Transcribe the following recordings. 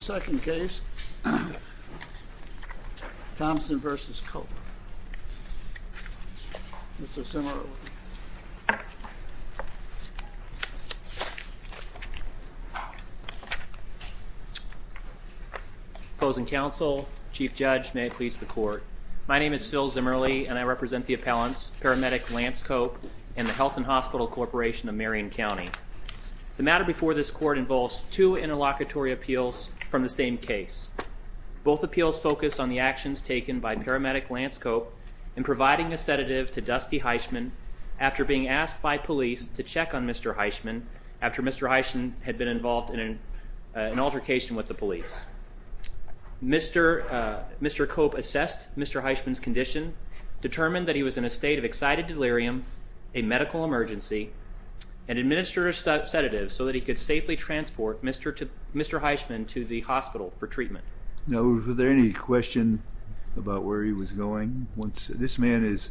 Second case, Thompson v. Cope, Mr. Zimmerle. Opposing counsel, Chief Judge, may it please the Court. My name is Phil Zimmerle and I represent the appellants, Paramedic Lance Cope and the Health and Hospital Corporation of Marion County. The matter before this Court involves two interlocutory appeals from the same case. Both appeals focus on the actions taken by Paramedic Lance Cope in providing a sedative to Dusty Heisman after being asked by police to check on Mr. Heisman after Mr. Heisman had been involved in an altercation with the police. Mr. Cope assessed Mr. Heisman's condition, determined that he was in a state of excited delirium, a medical emergency, and administered a sedative so that he could safely transport Mr. Heisman to the hospital for treatment. Now, was there any question about where he was going? This man is,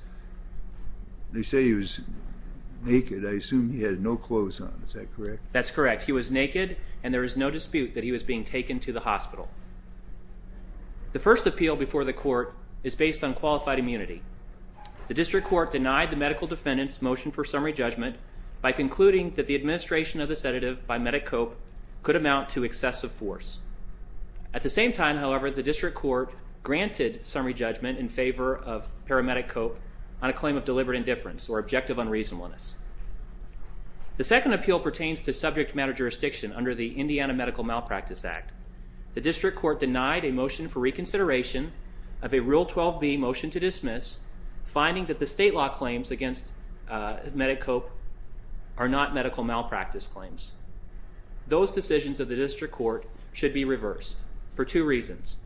they say he was naked. I assume he had no clothes on. Is that correct? That's correct. He was naked and there was no dispute that he was being taken to the hospital. The first appeal before the Court is based on qualified immunity. The District Court denied the medical defendant's motion for summary judgment by concluding that the administration of the sedative by Medic Cope could amount to excessive force. At the same time, however, the District Court granted summary judgment in favor of Paramedic Cope on a claim of deliberate indifference or objective unreasonableness. The second appeal pertains to subject matter jurisdiction under the Indiana Medical Malpractice Act. The District Court denied a motion for reconsideration of a Rule 12b motion to dismiss, finding that the state law claims against Medic Cope are not medical malpractice claims. Those decisions of the District Court should be reversed for two reasons.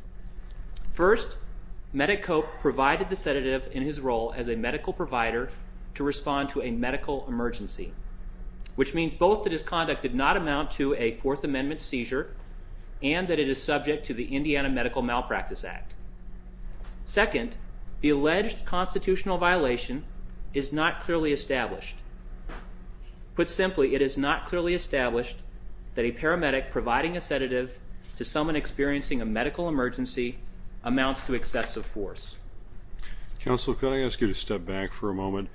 First, Medic Cope provided the sedative in his role as a medical provider to respond to a medical emergency, which means both that his conduct did not amount to a Fourth Amendment seizure and that it is subject to the Indiana Medical Malpractice Act. Second, the alleged constitutional violation is not clearly established. Put simply, it is not clearly established that a paramedic providing a sedative to someone experiencing a medical emergency amounts to excessive force. Counsel, can I ask you to step back for a moment?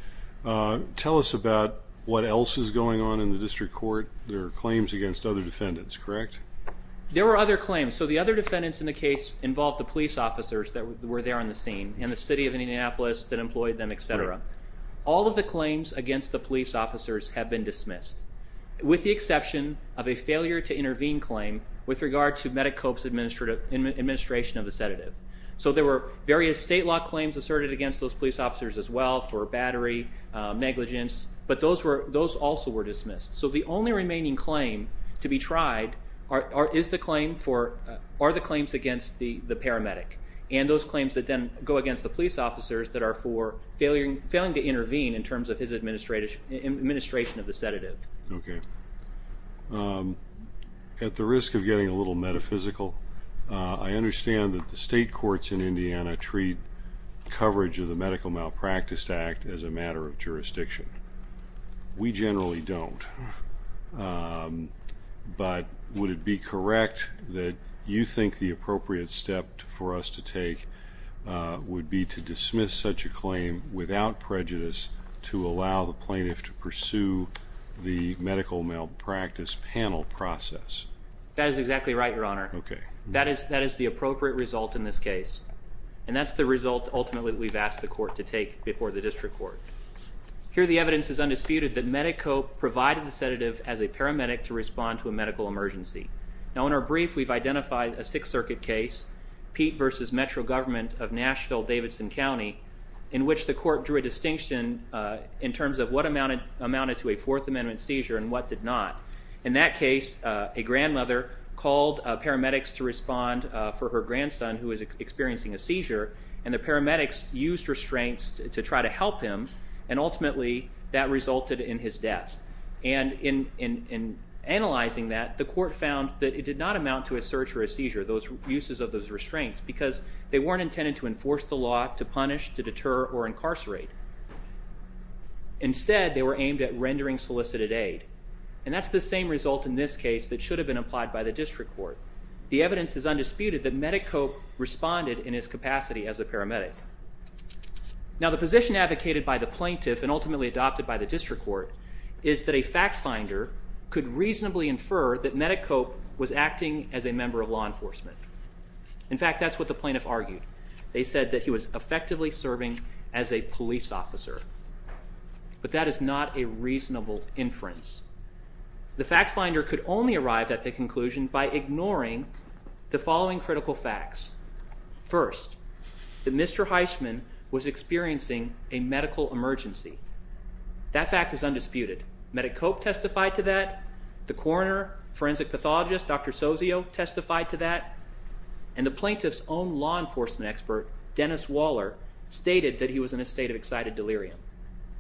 Tell us about what else is going on in the District Court. There are claims against other defendants, correct? There were other claims. So the other defendants in the case involved the police officers that were there on the scene and the City of Indianapolis that employed them, et cetera. All of the claims against the police officers have been dismissed, with the exception of a failure to intervene claim with regard to Medic Cope's administration of the sedative. So there were various state law claims asserted against those police officers as well for battery, negligence, but those also were dismissed. So the only remaining claim to be tried are the claims against the paramedic and those claims that then go against the police officers that are for failing to intervene in terms of his administration of the sedative. Okay. At the risk of getting a little metaphysical, I understand that the state courts in Indiana treat coverage of the Medical Malpractice Act as a matter of jurisdiction. We generally don't. But would it be correct that you think the appropriate step for us to take would be to dismiss such a claim without prejudice to allow the plaintiff to pursue the medical malpractice panel process? That is exactly right, Your Honor. Okay. That is the appropriate result in this case, and that's the result ultimately that we've asked the court to take before the district court. Here the evidence is undisputed that Medic Cope provided the sedative as a paramedic to respond to a medical emergency. Now in our brief, we've identified a Sixth Circuit case, Pete v. Metro Government of Nashville-Davidson County, in which the court drew a distinction in terms of what amounted to a Fourth Amendment seizure and what did not. In that case, a grandmother called paramedics to respond for her grandson who was experiencing a seizure, and the paramedics used restraints to try to help him, and ultimately that resulted in his death. And in analyzing that, the court found that it did not amount to a search or a seizure. Those uses of those restraints, because they weren't intended to enforce the law, to punish, to deter, or incarcerate. Instead, they were aimed at rendering solicited aid, and that's the same result in this case that should have been applied by the district court. The evidence is undisputed that Medic Cope responded in his capacity as a paramedic. Now the position advocated by the plaintiff and ultimately adopted by the district court is that a fact finder could reasonably infer that Medic Cope was acting as a member of law enforcement. In fact, that's what the plaintiff argued. They said that he was effectively serving as a police officer, but that is not a reasonable inference. The fact finder could only arrive at the conclusion by ignoring the following critical facts. First, that Mr. Heisman was experiencing a medical emergency. That fact is undisputed. Medic Cope testified to that. The coroner, forensic pathologist, Dr. Sozio, testified to that. And the plaintiff's own law enforcement expert, Dennis Waller, stated that he was in a state of excited delirium.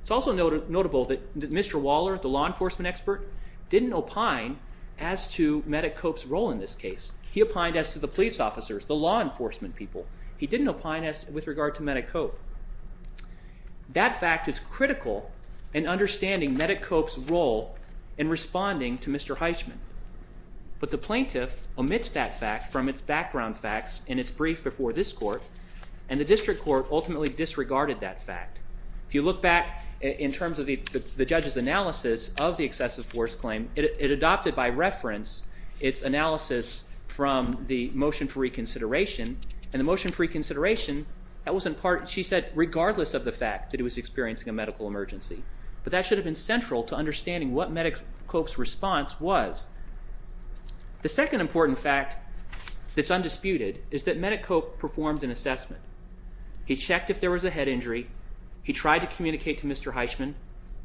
It's also notable that Mr. Waller, the law enforcement expert, didn't opine as to Medic Cope's role in this case. He opined as to the police officers, the law enforcement people. He didn't opine with regard to Medic Cope. That fact is critical in understanding Medic Cope's role in responding to Mr. Heisman. But the plaintiff omits that fact from its background facts in its brief before this court, and the district court ultimately disregarded that fact. If you look back in terms of the judge's analysis of the excessive force claim, it adopted by reference its analysis from the motion for reconsideration, and the motion for reconsideration, that was in part, she said, regardless of the fact that he was experiencing a medical emergency. But that should have been central to understanding what Medic Cope's response was. The second important fact that's undisputed is that Medic Cope performed an assessment. He checked if there was a head injury. He tried to communicate to Mr. Heisman,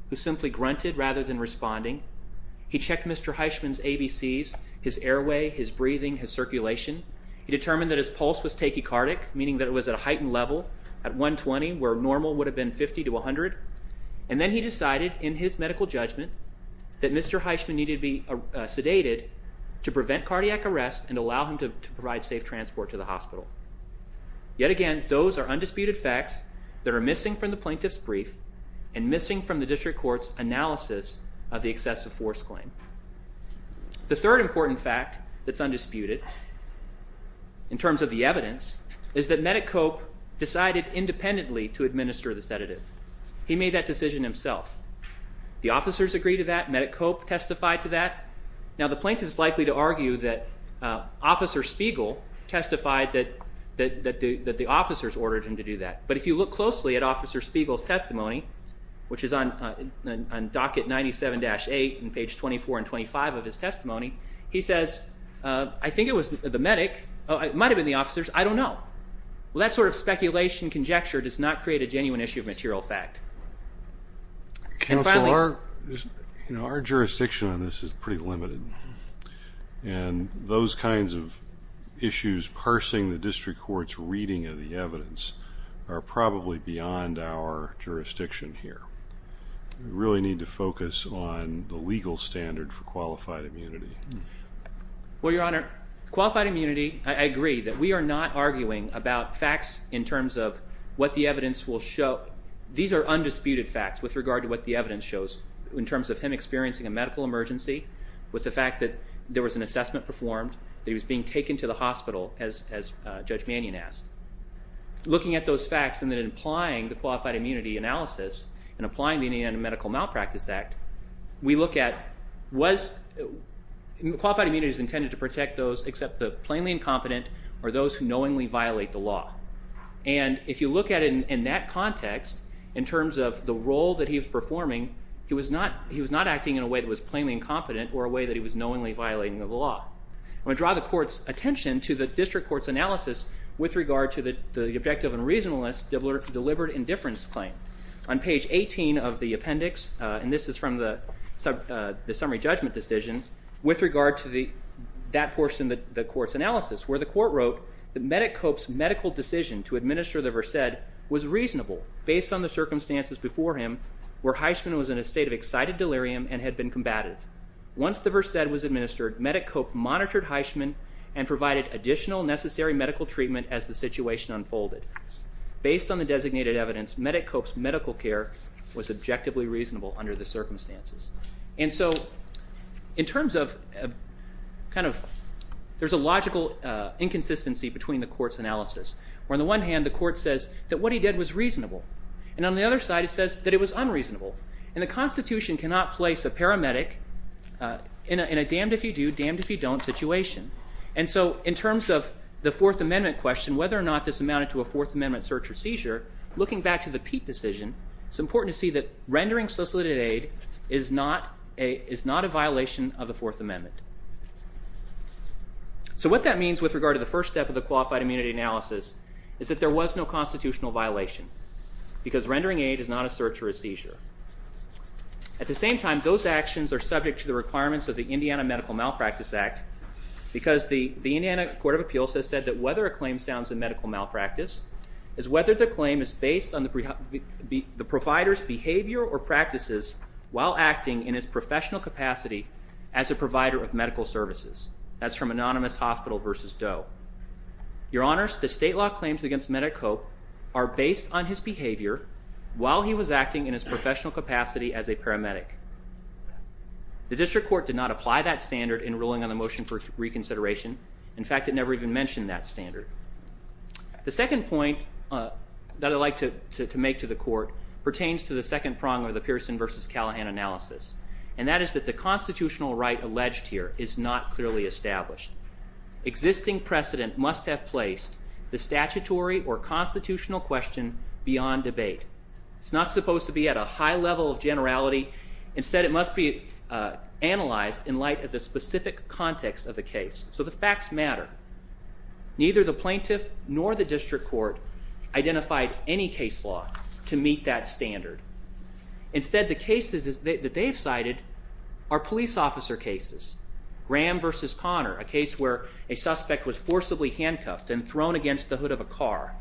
who simply grunted rather than responding. He checked Mr. Heisman's ABCs, his airway, his breathing, his circulation. He determined that his pulse was tachycardic, meaning that it was at a heightened level at 120, where normal would have been 50 to 100. And then he decided in his medical judgment that Mr. Heisman needed to be sedated to prevent cardiac arrest and allow him to provide safe transport to the hospital. Yet again, those are undisputed facts that are missing from the plaintiff's brief and missing from the district court's analysis of the excessive force claim. The third important fact that's undisputed in terms of the evidence is that Medic Cope decided independently to administer the sedative. He made that decision himself. The officers agreed to that. Medic Cope testified to that. Now, the plaintiff is likely to argue that Officer Spiegel testified that the officers ordered him to do that. But if you look closely at Officer Spiegel's testimony, which is on docket 97-8 and page 24 and 25 of his testimony, he says, I think it was the medic, it might have been the officers, I don't know. Well, that sort of speculation conjecture does not create a genuine issue of material fact. And finally... Counsel, our jurisdiction on this is pretty limited. And those kinds of issues parsing the district court's reading of the evidence are probably beyond our jurisdiction here. We really need to focus on the legal standard for qualified immunity. Well, Your Honor, qualified immunity, I agree that we are not arguing about facts in terms of what the evidence will show. These are undisputed facts with regard to what the evidence shows in terms of him experiencing a medical emergency, with the fact that there was an assessment performed, that he was being taken to the hospital, as Judge Mannion asked. Looking at those facts and then applying the Qualified Immunity Analysis and applying the Indiana Medical Malpractice Act, we look at was...qualified immunity is intended to protect those except the plainly incompetent or those who knowingly violate the law. And if you look at it in that context, in terms of the role that he was performing, he was not acting in a way that was plainly incompetent or a way that he was knowingly violating the law. I want to draw the Court's attention to the district court's analysis with regard to the objective and reasonableness deliberate indifference claim. On page 18 of the appendix, and this is from the summary judgment decision, with regard to that portion of the Court's analysis, where the Court wrote that Medicope's medical decision to administer the Versed was reasonable based on the circumstances before him where Heisman was in a state of excited delirium and had been combative. Once the Versed was administered, Medicope monitored Heisman and provided additional necessary medical treatment as the situation unfolded. Based on the designated evidence, Medicope's medical care was objectively reasonable under the circumstances. And so in terms of kind of... there's a logical inconsistency between the Court's analysis, where on the one hand the Court says that what he did was reasonable, and on the other side it says that it was unreasonable. And the Constitution cannot place a paramedic in a damned-if-you-do, damned-if-you-don't situation. And so in terms of the Fourth Amendment question, whether or not this amounted to a Fourth Amendment search or seizure, looking back to the Peete decision, it's important to see that rendering solicited aid is not a violation of the Fourth Amendment. So what that means with regard to the first step of the Qualified Immunity Analysis is that there was no constitutional violation because rendering aid is not a search or a seizure. At the same time, those actions are subject to the requirements of the Indiana Medical Malpractice Act because the Indiana Court of Appeals has said that whether a claim sounds a medical malpractice is whether the claim is based on the provider's behavior or practices while acting in his professional capacity as a provider of medical services. That's from Anonymous Hospital v. Doe. Your Honors, the state law claims against Medicope are based on his behavior while he was acting in his professional capacity as a paramedic. The District Court did not apply that standard in ruling on the motion for reconsideration. In fact, it never even mentioned that standard. The second point that I'd like to make to the Court pertains to the second prong of the Pearson v. Callahan analysis, and that is that the constitutional right alleged here is not clearly established. Existing precedent must have placed the statutory or constitutional question beyond debate. It's not supposed to be at a high level of generality. Instead, it must be analyzed in light of the specific context of the case. So the facts matter. Neither the plaintiff nor the District Court identified any case law to meet that standard. Instead, the cases that they've cited are police officer cases. Graham v. Connor, a case where a suspect was forcibly handcuffed and thrown against the hood of a car.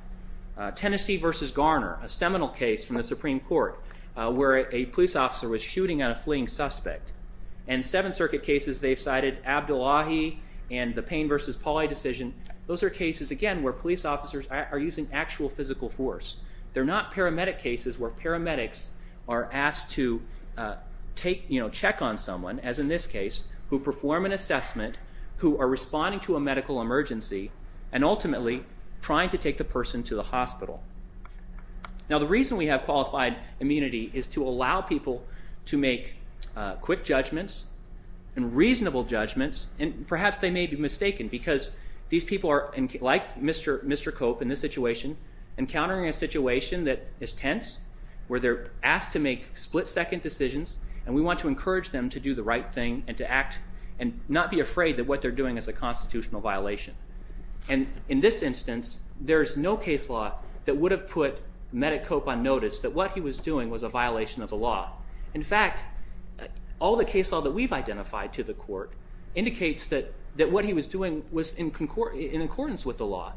Tennessee v. Garner, a seminal case from the Supreme Court where a police officer was shooting at a fleeing suspect. And Seventh Circuit cases they've cited, Abdullahi and the Payne v. Pauli decision, those are cases, again, where police officers are using actual physical force. They're not paramedic cases where paramedics are asked to check on someone, as in this case, who perform an assessment, who are responding to a medical emergency, and ultimately trying to take the person to the hospital. Now, the reason we have qualified immunity is to allow people to make quick judgments and reasonable judgments, and perhaps they may be mistaken because these people are, like Mr. Cope in this situation, encountering a situation that is tense, where they're asked to make split-second decisions, and we want to encourage them to do the right thing and to act and not be afraid that what they're doing is a constitutional violation. And in this instance, there's no case law that would have put Medic Cope on notice that what he was doing was a violation of the law. In fact, all the case law that we've identified to the court indicates that what he was doing was in accordance with the law,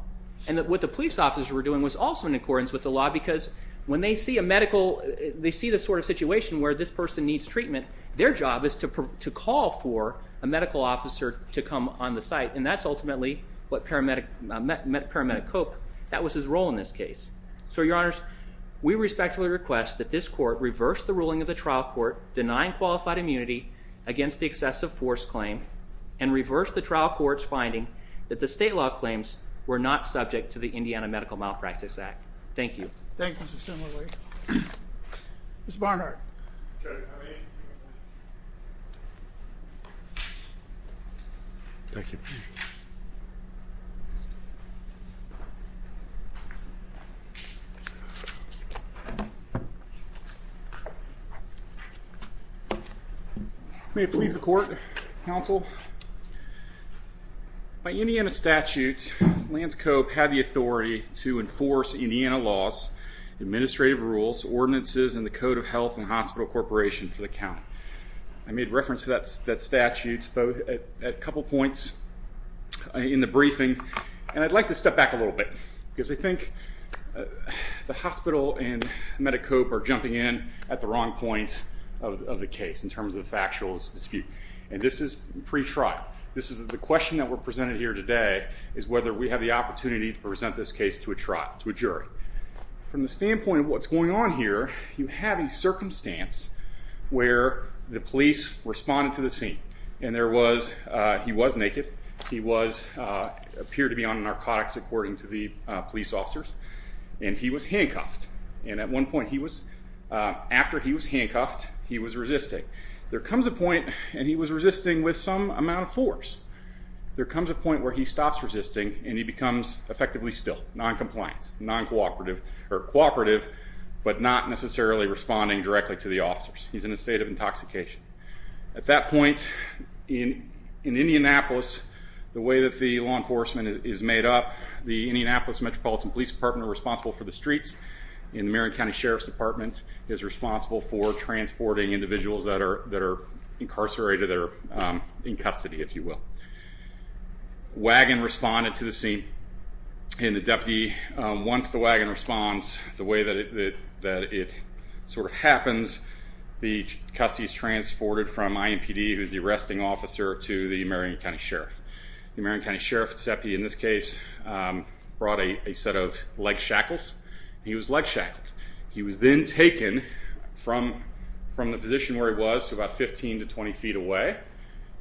and that what the police officers were doing was also in accordance with the law, because when they see a medical... they see the sort of situation where this person needs treatment, their job is to call for a medical officer to come on the site, and that's ultimately what paramedic... paramedic Cope... that was his role in this case. So, Your Honors, we respectfully request that this court reverse the ruling of the trial court denying qualified immunity against the excessive force claim and reverse the trial court's finding that the state law claims were not subject to the Indiana Medical Malpractice Act. Thank you. Thank you, Mr. Semler. Mr. Barnhart. Okay. Thank you. May it please the court, counsel, by Indiana statute, Lance Cope had the authority to enforce Indiana laws, administrative rules, ordinances, and the Code of Health and Hospital Corporation for the county. I made reference to that statute at a couple points in the briefing, and I'd like to step back a little bit, because I think the hospital and Medic Cope are jumping in at the wrong point of the case in terms of the factual dispute. And this is pre-trial. The question that we're presented here today is whether we have the opportunity to present this case to a jury. From the standpoint of what's going on here, you have a circumstance where the police responded to the scene, and he was naked, he appeared to be on narcotics, according to the police officers, and he was handcuffed. And at one point, after he was handcuffed, he was resisting. There comes a point, and he was resisting with some amount of force. There comes a point where he stops resisting, and he becomes effectively still, noncompliant, noncooperative, or cooperative, but not necessarily responding directly to the officers. He's in a state of intoxication. At that point, in Indianapolis, the way that the law enforcement is made up, the Indianapolis Metropolitan Police Department are responsible for the streets, and the Marion County Sheriff's Department is responsible for transporting individuals that are incarcerated, that are in custody, if you will. Wagon responded to the scene, and the deputy, once the wagon responds, the way that it sort of happens, the custody is transported from IMPD, who's the arresting officer, to the Marion County Sheriff. The Marion County Sheriff's deputy, in this case, brought a set of leg shackles, and he was leg shackled. He was then taken from the position where he was, to about 15 to 20 feet away,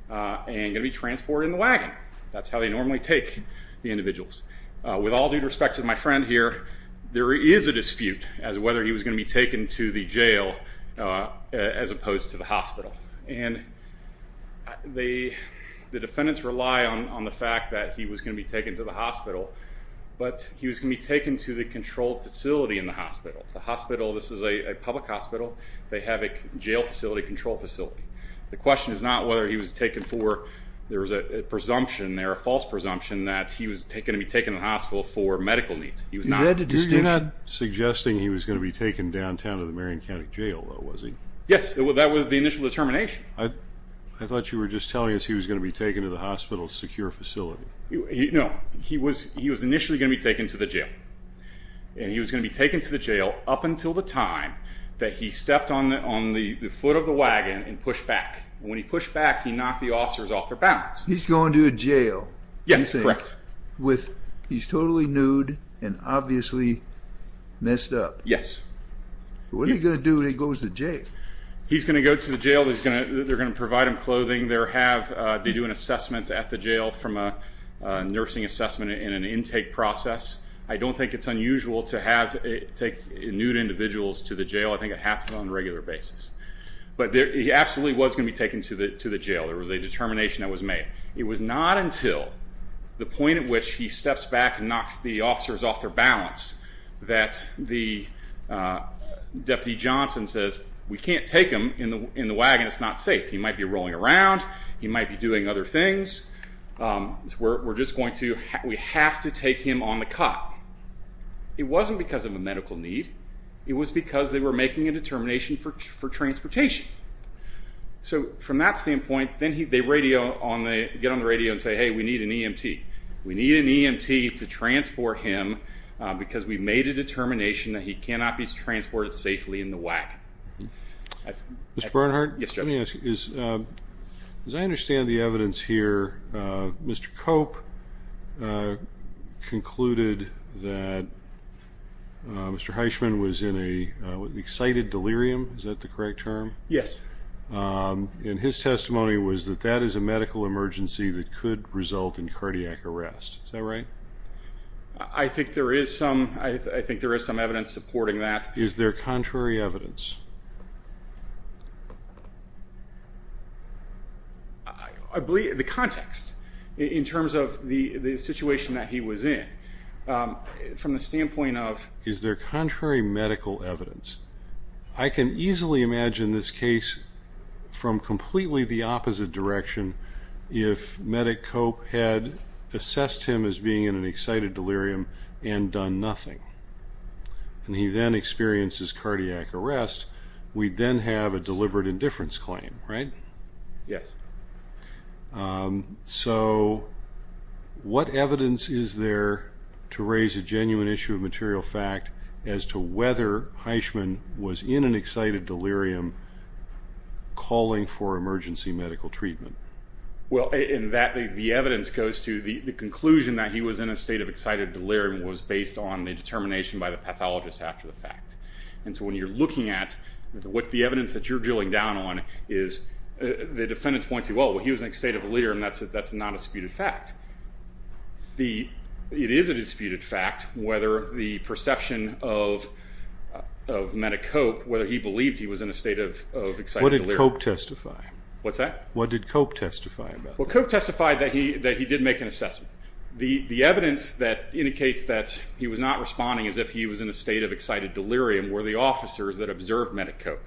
and going to be transported in the wagon. That's how they normally take the individuals. With all due respect to my friend here, there is a dispute as to whether he was going to be taken to the jail, as opposed to the hospital. And the defendants rely on the fact that he was going to be taken to the hospital, but he was going to be taken to the controlled facility in the hospital. The hospital, this is a public hospital. They have a jail facility, control facility. The question is not whether he was taken for, there was a presumption there, a false presumption, that he was going to be taken to the hospital for medical needs. He was not. You're not suggesting he was going to be taken downtown to the Marion County Jail, though, was he? Yes, that was the initial determination. I thought you were just telling us he was going to be taken to the hospital's secure facility. No. He was initially going to be taken to the jail. And he was going to be taken to the jail up until the time that he stepped on the foot of the wagon and pushed back. When he pushed back, he knocked the officers off their balance. He's going to a jail. Yes, correct. He's totally nude and obviously messed up. Yes. What is he going to do when he goes to jail? He's going to go to the jail. They're going to provide him clothing. They do an assessment at the jail from a nursing assessment in an intake process. I don't think it's unusual to take nude individuals to the jail. I think it happens on a regular basis. But he absolutely was going to be taken to the jail. It was a determination that was made. It was not until the point at which he steps back and knocks the officers off their balance that the Deputy Johnson says, we can't take him in the wagon, it's not safe. He might be rolling around. He might be doing other things. We have to take him on the cot. It wasn't because of a medical need. It was because they were making a determination for transportation. So from that standpoint, they get on the radio and say, hey, we need an EMT. We need an EMT to transport him because we made a determination that he cannot be transported safely in the wagon. Mr. Bernhardt? Yes, Judge. Let me ask you, as I understand the evidence here, Mr. Cope concluded that Mr. Heisman was in an excited delirium. Is that the correct term? Yes. And his testimony was that that is a medical emergency that could result in cardiac arrest. Is that right? I think there is some evidence supporting that. Is there contrary evidence? I believe the context in terms of the situation that he was in. From the standpoint of is there contrary medical evidence? I can easily imagine this case from completely the opposite direction if Medic Cope had assessed him as being in an excited delirium and done nothing. And he then experiences cardiac arrest. We then have a deliberate indifference claim, right? Yes. So what evidence is there to raise a genuine issue of material fact as to whether Heisman was in an excited delirium calling for emergency medical treatment? Well, the evidence goes to the conclusion that he was in a state of excited delirium was based on the determination by the pathologist after the fact. And so when you're looking at the evidence that you're drilling down on, the defendants point to, well, he was in an excited delirium. That's not a disputed fact. It is a disputed fact whether the perception of Medic Cope, whether he believed he was in a state of excited delirium. What did Cope testify? What's that? What did Cope testify about? Well, Cope testified that he did make an assessment. The evidence that indicates that he was not responding as if he was in a state of excited delirium were the officers that observed Medic Cope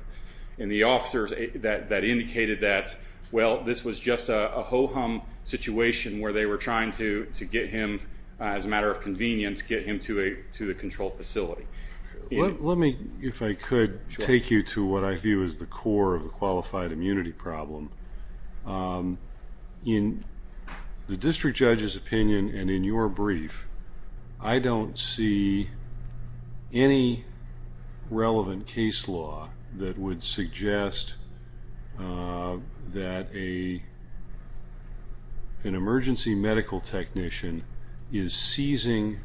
and the officers that indicated that, well, this was just a ho-hum situation where they were trying to get him, as a matter of convenience, get him to the control facility. Let me, if I could, take you to what I view as the core of the qualified immunity problem. In the district judge's opinion and in your brief, I don't see any relevant case law that would suggest that an emergency medical technician is seizing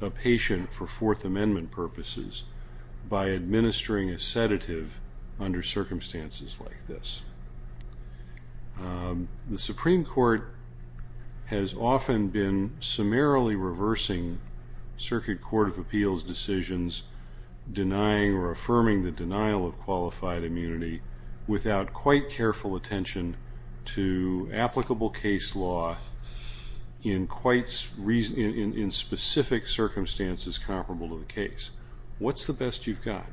a patient for Fourth Amendment purposes by administering a sedative under circumstances like this. The Supreme Court has often been summarily reversing Circuit Court of Appeals decisions, denying or affirming the denial of qualified immunity without quite careful attention to applicable case law in specific circumstances comparable to the case. What's the best you've got?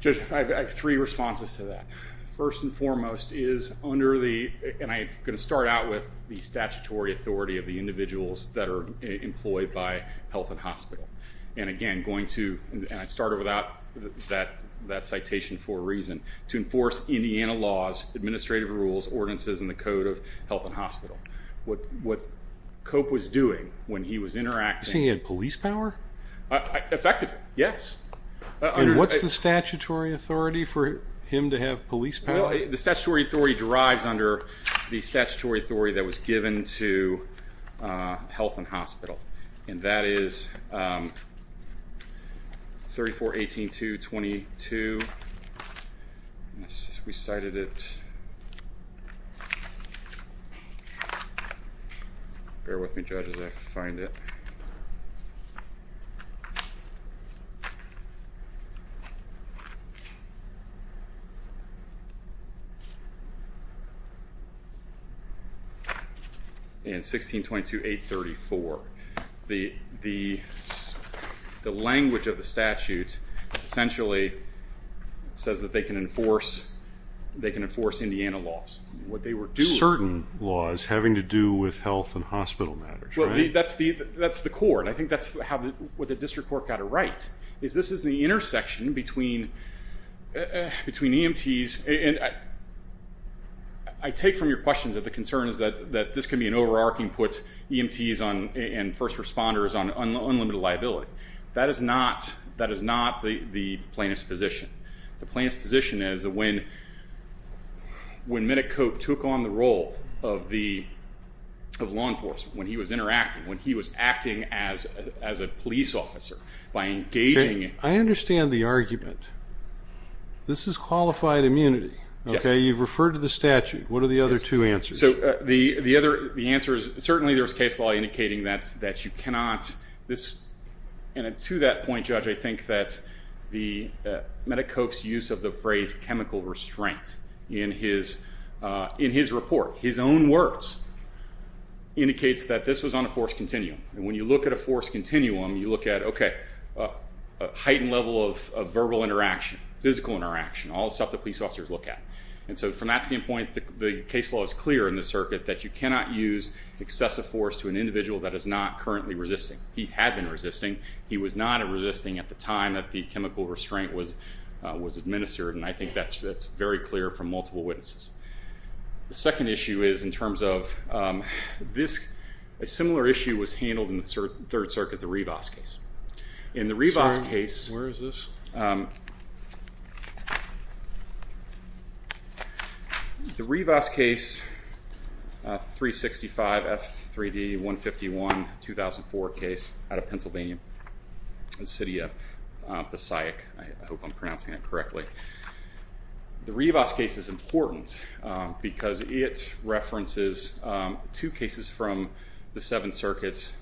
Judge, I have three responses to that. First and foremost is under the, and I'm going to start out with the statutory authority of the individuals that are employed by Health and Hospital. And again, going to, and I started without that citation for a reason, to enforce Indiana laws, administrative rules, ordinances, and the code of Health and Hospital. What Cope was doing when he was interacting. You're saying he had police power? Effective, yes. And what's the statutory authority for him to have police power? The statutory authority derives under the statutory authority that was given to Health and Hospital, and that is 34-18-222. We cited it. Bear with me, Judge, as I find it. And 16-22-834. The language of the statute essentially says that they can enforce Indiana laws. Certain laws having to do with Health and Hospital matters, right? That's the core, and I think that's what the district court got it right, is this is the intersection between EMTs, and I take from your questions that the concern is that this could be an overarching put EMTs and first responders on unlimited liability. That is not the plaintiff's position. The plaintiff's position is that when Minnick Cope took on the role of law enforcement, when he was interacting, when he was acting as a police officer, by engaging in... I understand the argument. This is qualified immunity. You've referred to the statute. What are the other two answers? The answer is certainly there's case law indicating that you cannot... And to that point, Judge, I think that Minnick Cope's use of the phrase chemical restraint in his report, his own words, indicates that this was on a forced continuum. And when you look at a forced continuum, you look at, okay, a heightened level of verbal interaction, physical interaction, all the stuff that police officers look at. And so from that standpoint, the case law is clear in the circuit that you cannot use excessive force to an individual that is not currently resisting. He had been resisting. He was not resisting at the time that the chemical restraint was administered, and I think that's very clear from multiple witnesses. The second issue is in terms of this. A similar issue was handled in the Third Circuit, the Rivas case. In the Rivas case... Sorry, where is this? The Rivas case, 365 F3D 151, 2004 case out of Pennsylvania, in the city of Passaic. I hope I'm pronouncing that correctly. The Rivas case is important because it references two cases from the Seventh Circuit,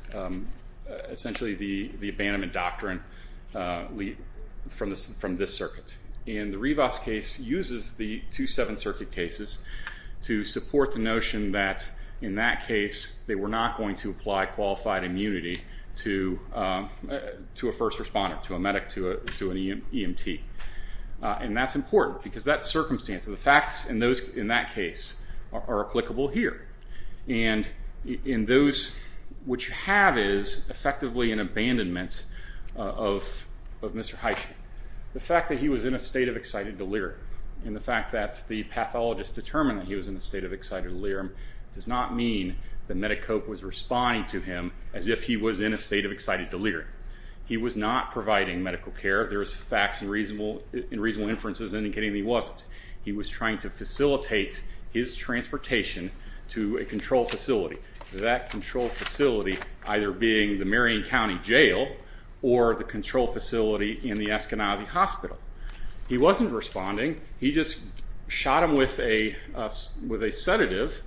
essentially the abandonment doctrine from this circuit. And the Rivas case uses the two Seventh Circuit cases to support the notion that, in that case, they were not going to apply qualified immunity to a first responder, to a medic, to an EMT. And that's important because that circumstance, the facts in that case are applicable here. And in those, what you have is effectively an abandonment of Mr. Heitsch. The fact that he was in a state of excited delirium, and the fact that the pathologist determined that he was in a state of excited delirium, does not mean that Medi-Cope was responding to him as if he was in a state of excited delirium. He was not providing medical care. There was facts and reasonable inferences indicating that he wasn't. He was trying to facilitate his transportation to a control facility, that control facility either being the Marion County Jail or the control facility in the Eskenazi Hospital. He wasn't responding. He just shot him with a sedative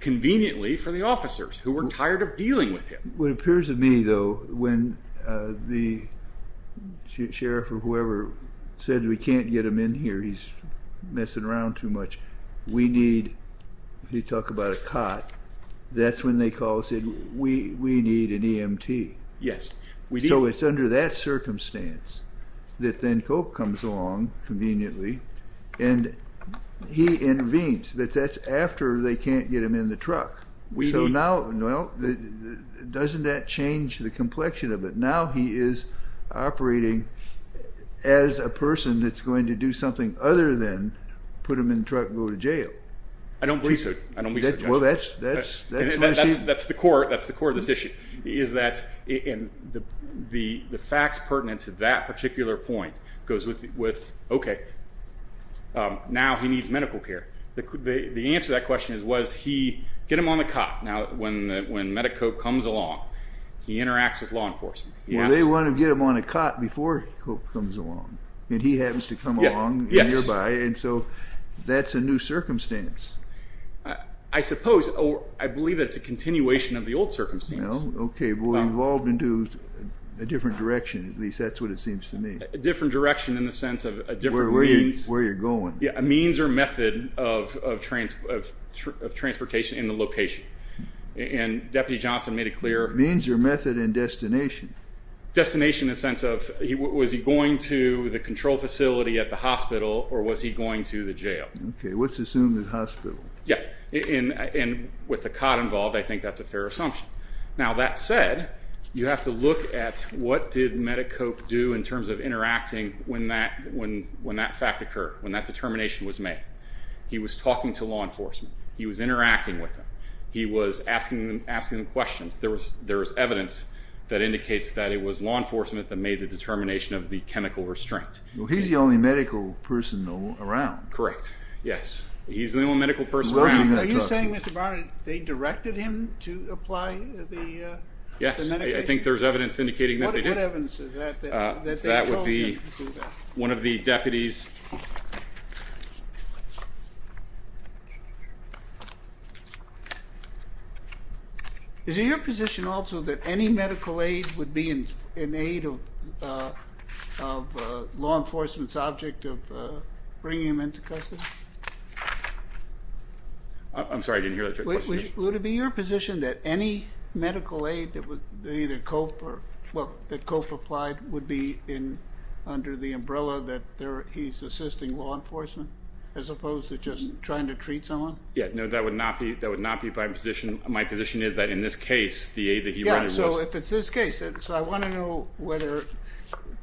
conveniently for the officers, who were tired of dealing with him. What appears to me, though, when the sheriff or whoever said, We can't get him in here. He's messing around too much. We need, if you talk about a cot, that's when they called and said, We need an EMT. Yes. So it's under that circumstance that then Cope comes along conveniently, and he intervenes, but that's after they can't get him in the truck. So now, well, doesn't that change the complexion of it? Now he is operating as a person that's going to do something other than put him in the truck and go to jail. I don't believe so. I don't believe so. Well, that's what I see. That's the core of this issue, is that the facts pertinent to that particular point goes with, Okay, now he needs medical care. The answer to that question is, Get him on the cot. Now, when Medi-Cope comes along, he interacts with law enforcement. Well, they want to get him on a cot before Cope comes along, and he happens to come along nearby, and so that's a new circumstance. I suppose. I believe that's a continuation of the old circumstance. Okay. Well, we've evolved into a different direction, at least that's what it seems to me. A different direction in the sense of a different means. Where you're going. Yeah, a means or method of transportation in the location. And Deputy Johnson made it clear. Means or method and destination. Destination in the sense of, was he going to the control facility at the hospital or was he going to the jail? Okay, let's assume the hospital. Yeah, and with the cot involved, I think that's a fair assumption. Now, that said, you have to look at what did Medi-Cope do in terms of interacting when that fact occurred, when that determination was made. He was talking to law enforcement. He was interacting with them. He was asking them questions. There was evidence that indicates that it was law enforcement that made the determination of the chemical restraint. Well, he's the only medical person around. Correct, yes. He's the only medical person around. Are you saying, Mr. Barnett, they directed him to apply the medication? Yes, I think there's evidence indicating that they did. What evidence is that that they told him to do that? One of the deputies. Is it your position also that any medical aid would be an aid of law enforcement's object of bringing him into custody? I'm sorry, I didn't hear that question. Would it be your position that any medical aid that either COPE or, well, that COPE applied would be under the umbrella that he's assisting law enforcement as opposed to just trying to treat someone? Yeah, no, that would not be my position. My position is that in this case, the aid that he rendered was. Yeah, so if it's this case, so I want to know whether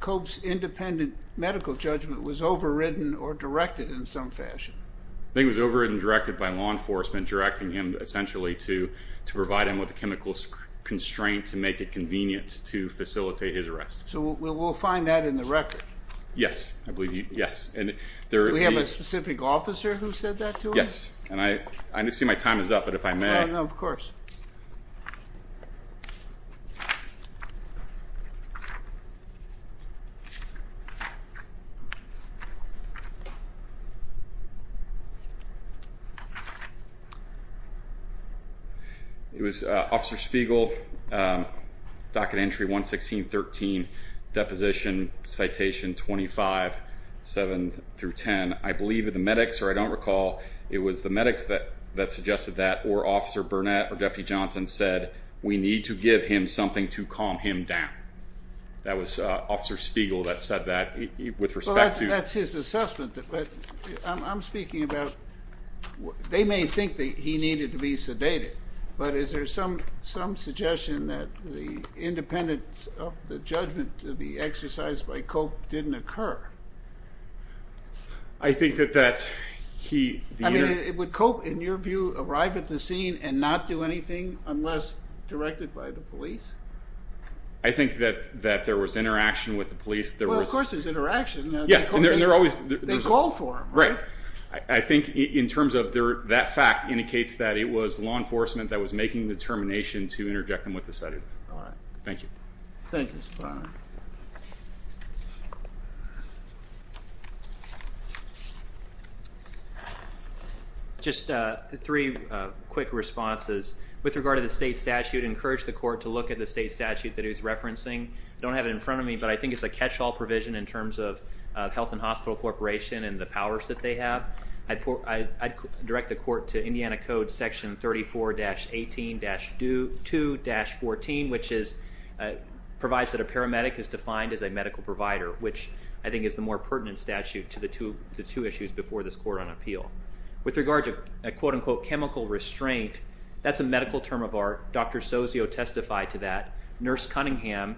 COPE's independent medical judgment was overridden or directed in some fashion. I think it was overridden and directed by law enforcement, directing him essentially to provide him with a chemical constraint to make it convenient to facilitate his arrest. So we'll find that in the record. Yes, I believe, yes. Do we have a specific officer who said that to him? Yes, and I see my time is up, but if I may. Of course. Okay. It was Officer Spiegel, docket entry 116.13, deposition citation 25, 7-10. I believe it was the medics, or I don't recall, it was the medics that suggested that, or Officer Burnett, or Deputy Johnson said, we need to give him something to calm him down. That was Officer Spiegel that said that with respect to. Well, that's his assessment, but I'm speaking about, they may think that he needed to be sedated, but is there some suggestion that the independence of the judgment to be exercised by COPE didn't occur? I think that he. I mean, would COPE, in your view, arrive at the scene and not do anything unless directed by the police? I think that there was interaction with the police. Well, of course there's interaction. Yeah, and they're always. They call for him, right? I think in terms of that fact indicates that it was law enforcement that was making the determination to interject him with the sedative. All right. Thank you. Thank you, Mr. Barnett. Just three quick responses. With regard to the state statute, I encourage the court to look at the state statute that he was referencing. I don't have it in front of me, but I think it's a catch-all provision in terms of Health and Hospital Corporation and the powers that they have. I direct the court to Indiana Code Section 34-18-2-14, which provides that a paramedic is defined as a medical provider, which I think is the more pertinent statute to the two issues before this court on appeal. With regard to a, quote-unquote, chemical restraint, that's a medical term of art. Dr. Sozio testified to that. Nurse Cunningham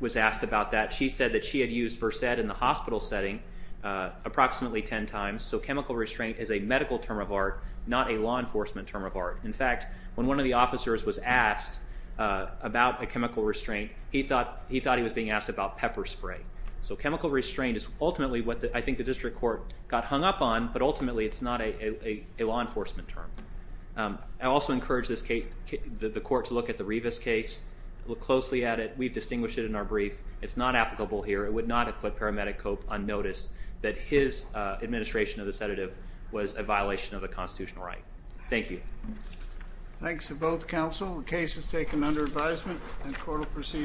was asked about that. She said that she had used Versed in the hospital setting approximately ten times. So chemical restraint is a medical term of art, not a law enforcement term of art. In fact, when one of the officers was asked about a chemical restraint, he thought he was being asked about pepper spray. So chemical restraint is ultimately what I think the district court got hung up on, but ultimately it's not a law enforcement term. I also encourage the court to look at the Rivas case, look closely at it. We've distinguished it in our brief. It's not applicable here. It would not have put paramedic Cope on notice that his administration of the sedative was a violation of the constitutional right. Thank you. Thanks to both counsel. The case is taken under advisement and court will proceed.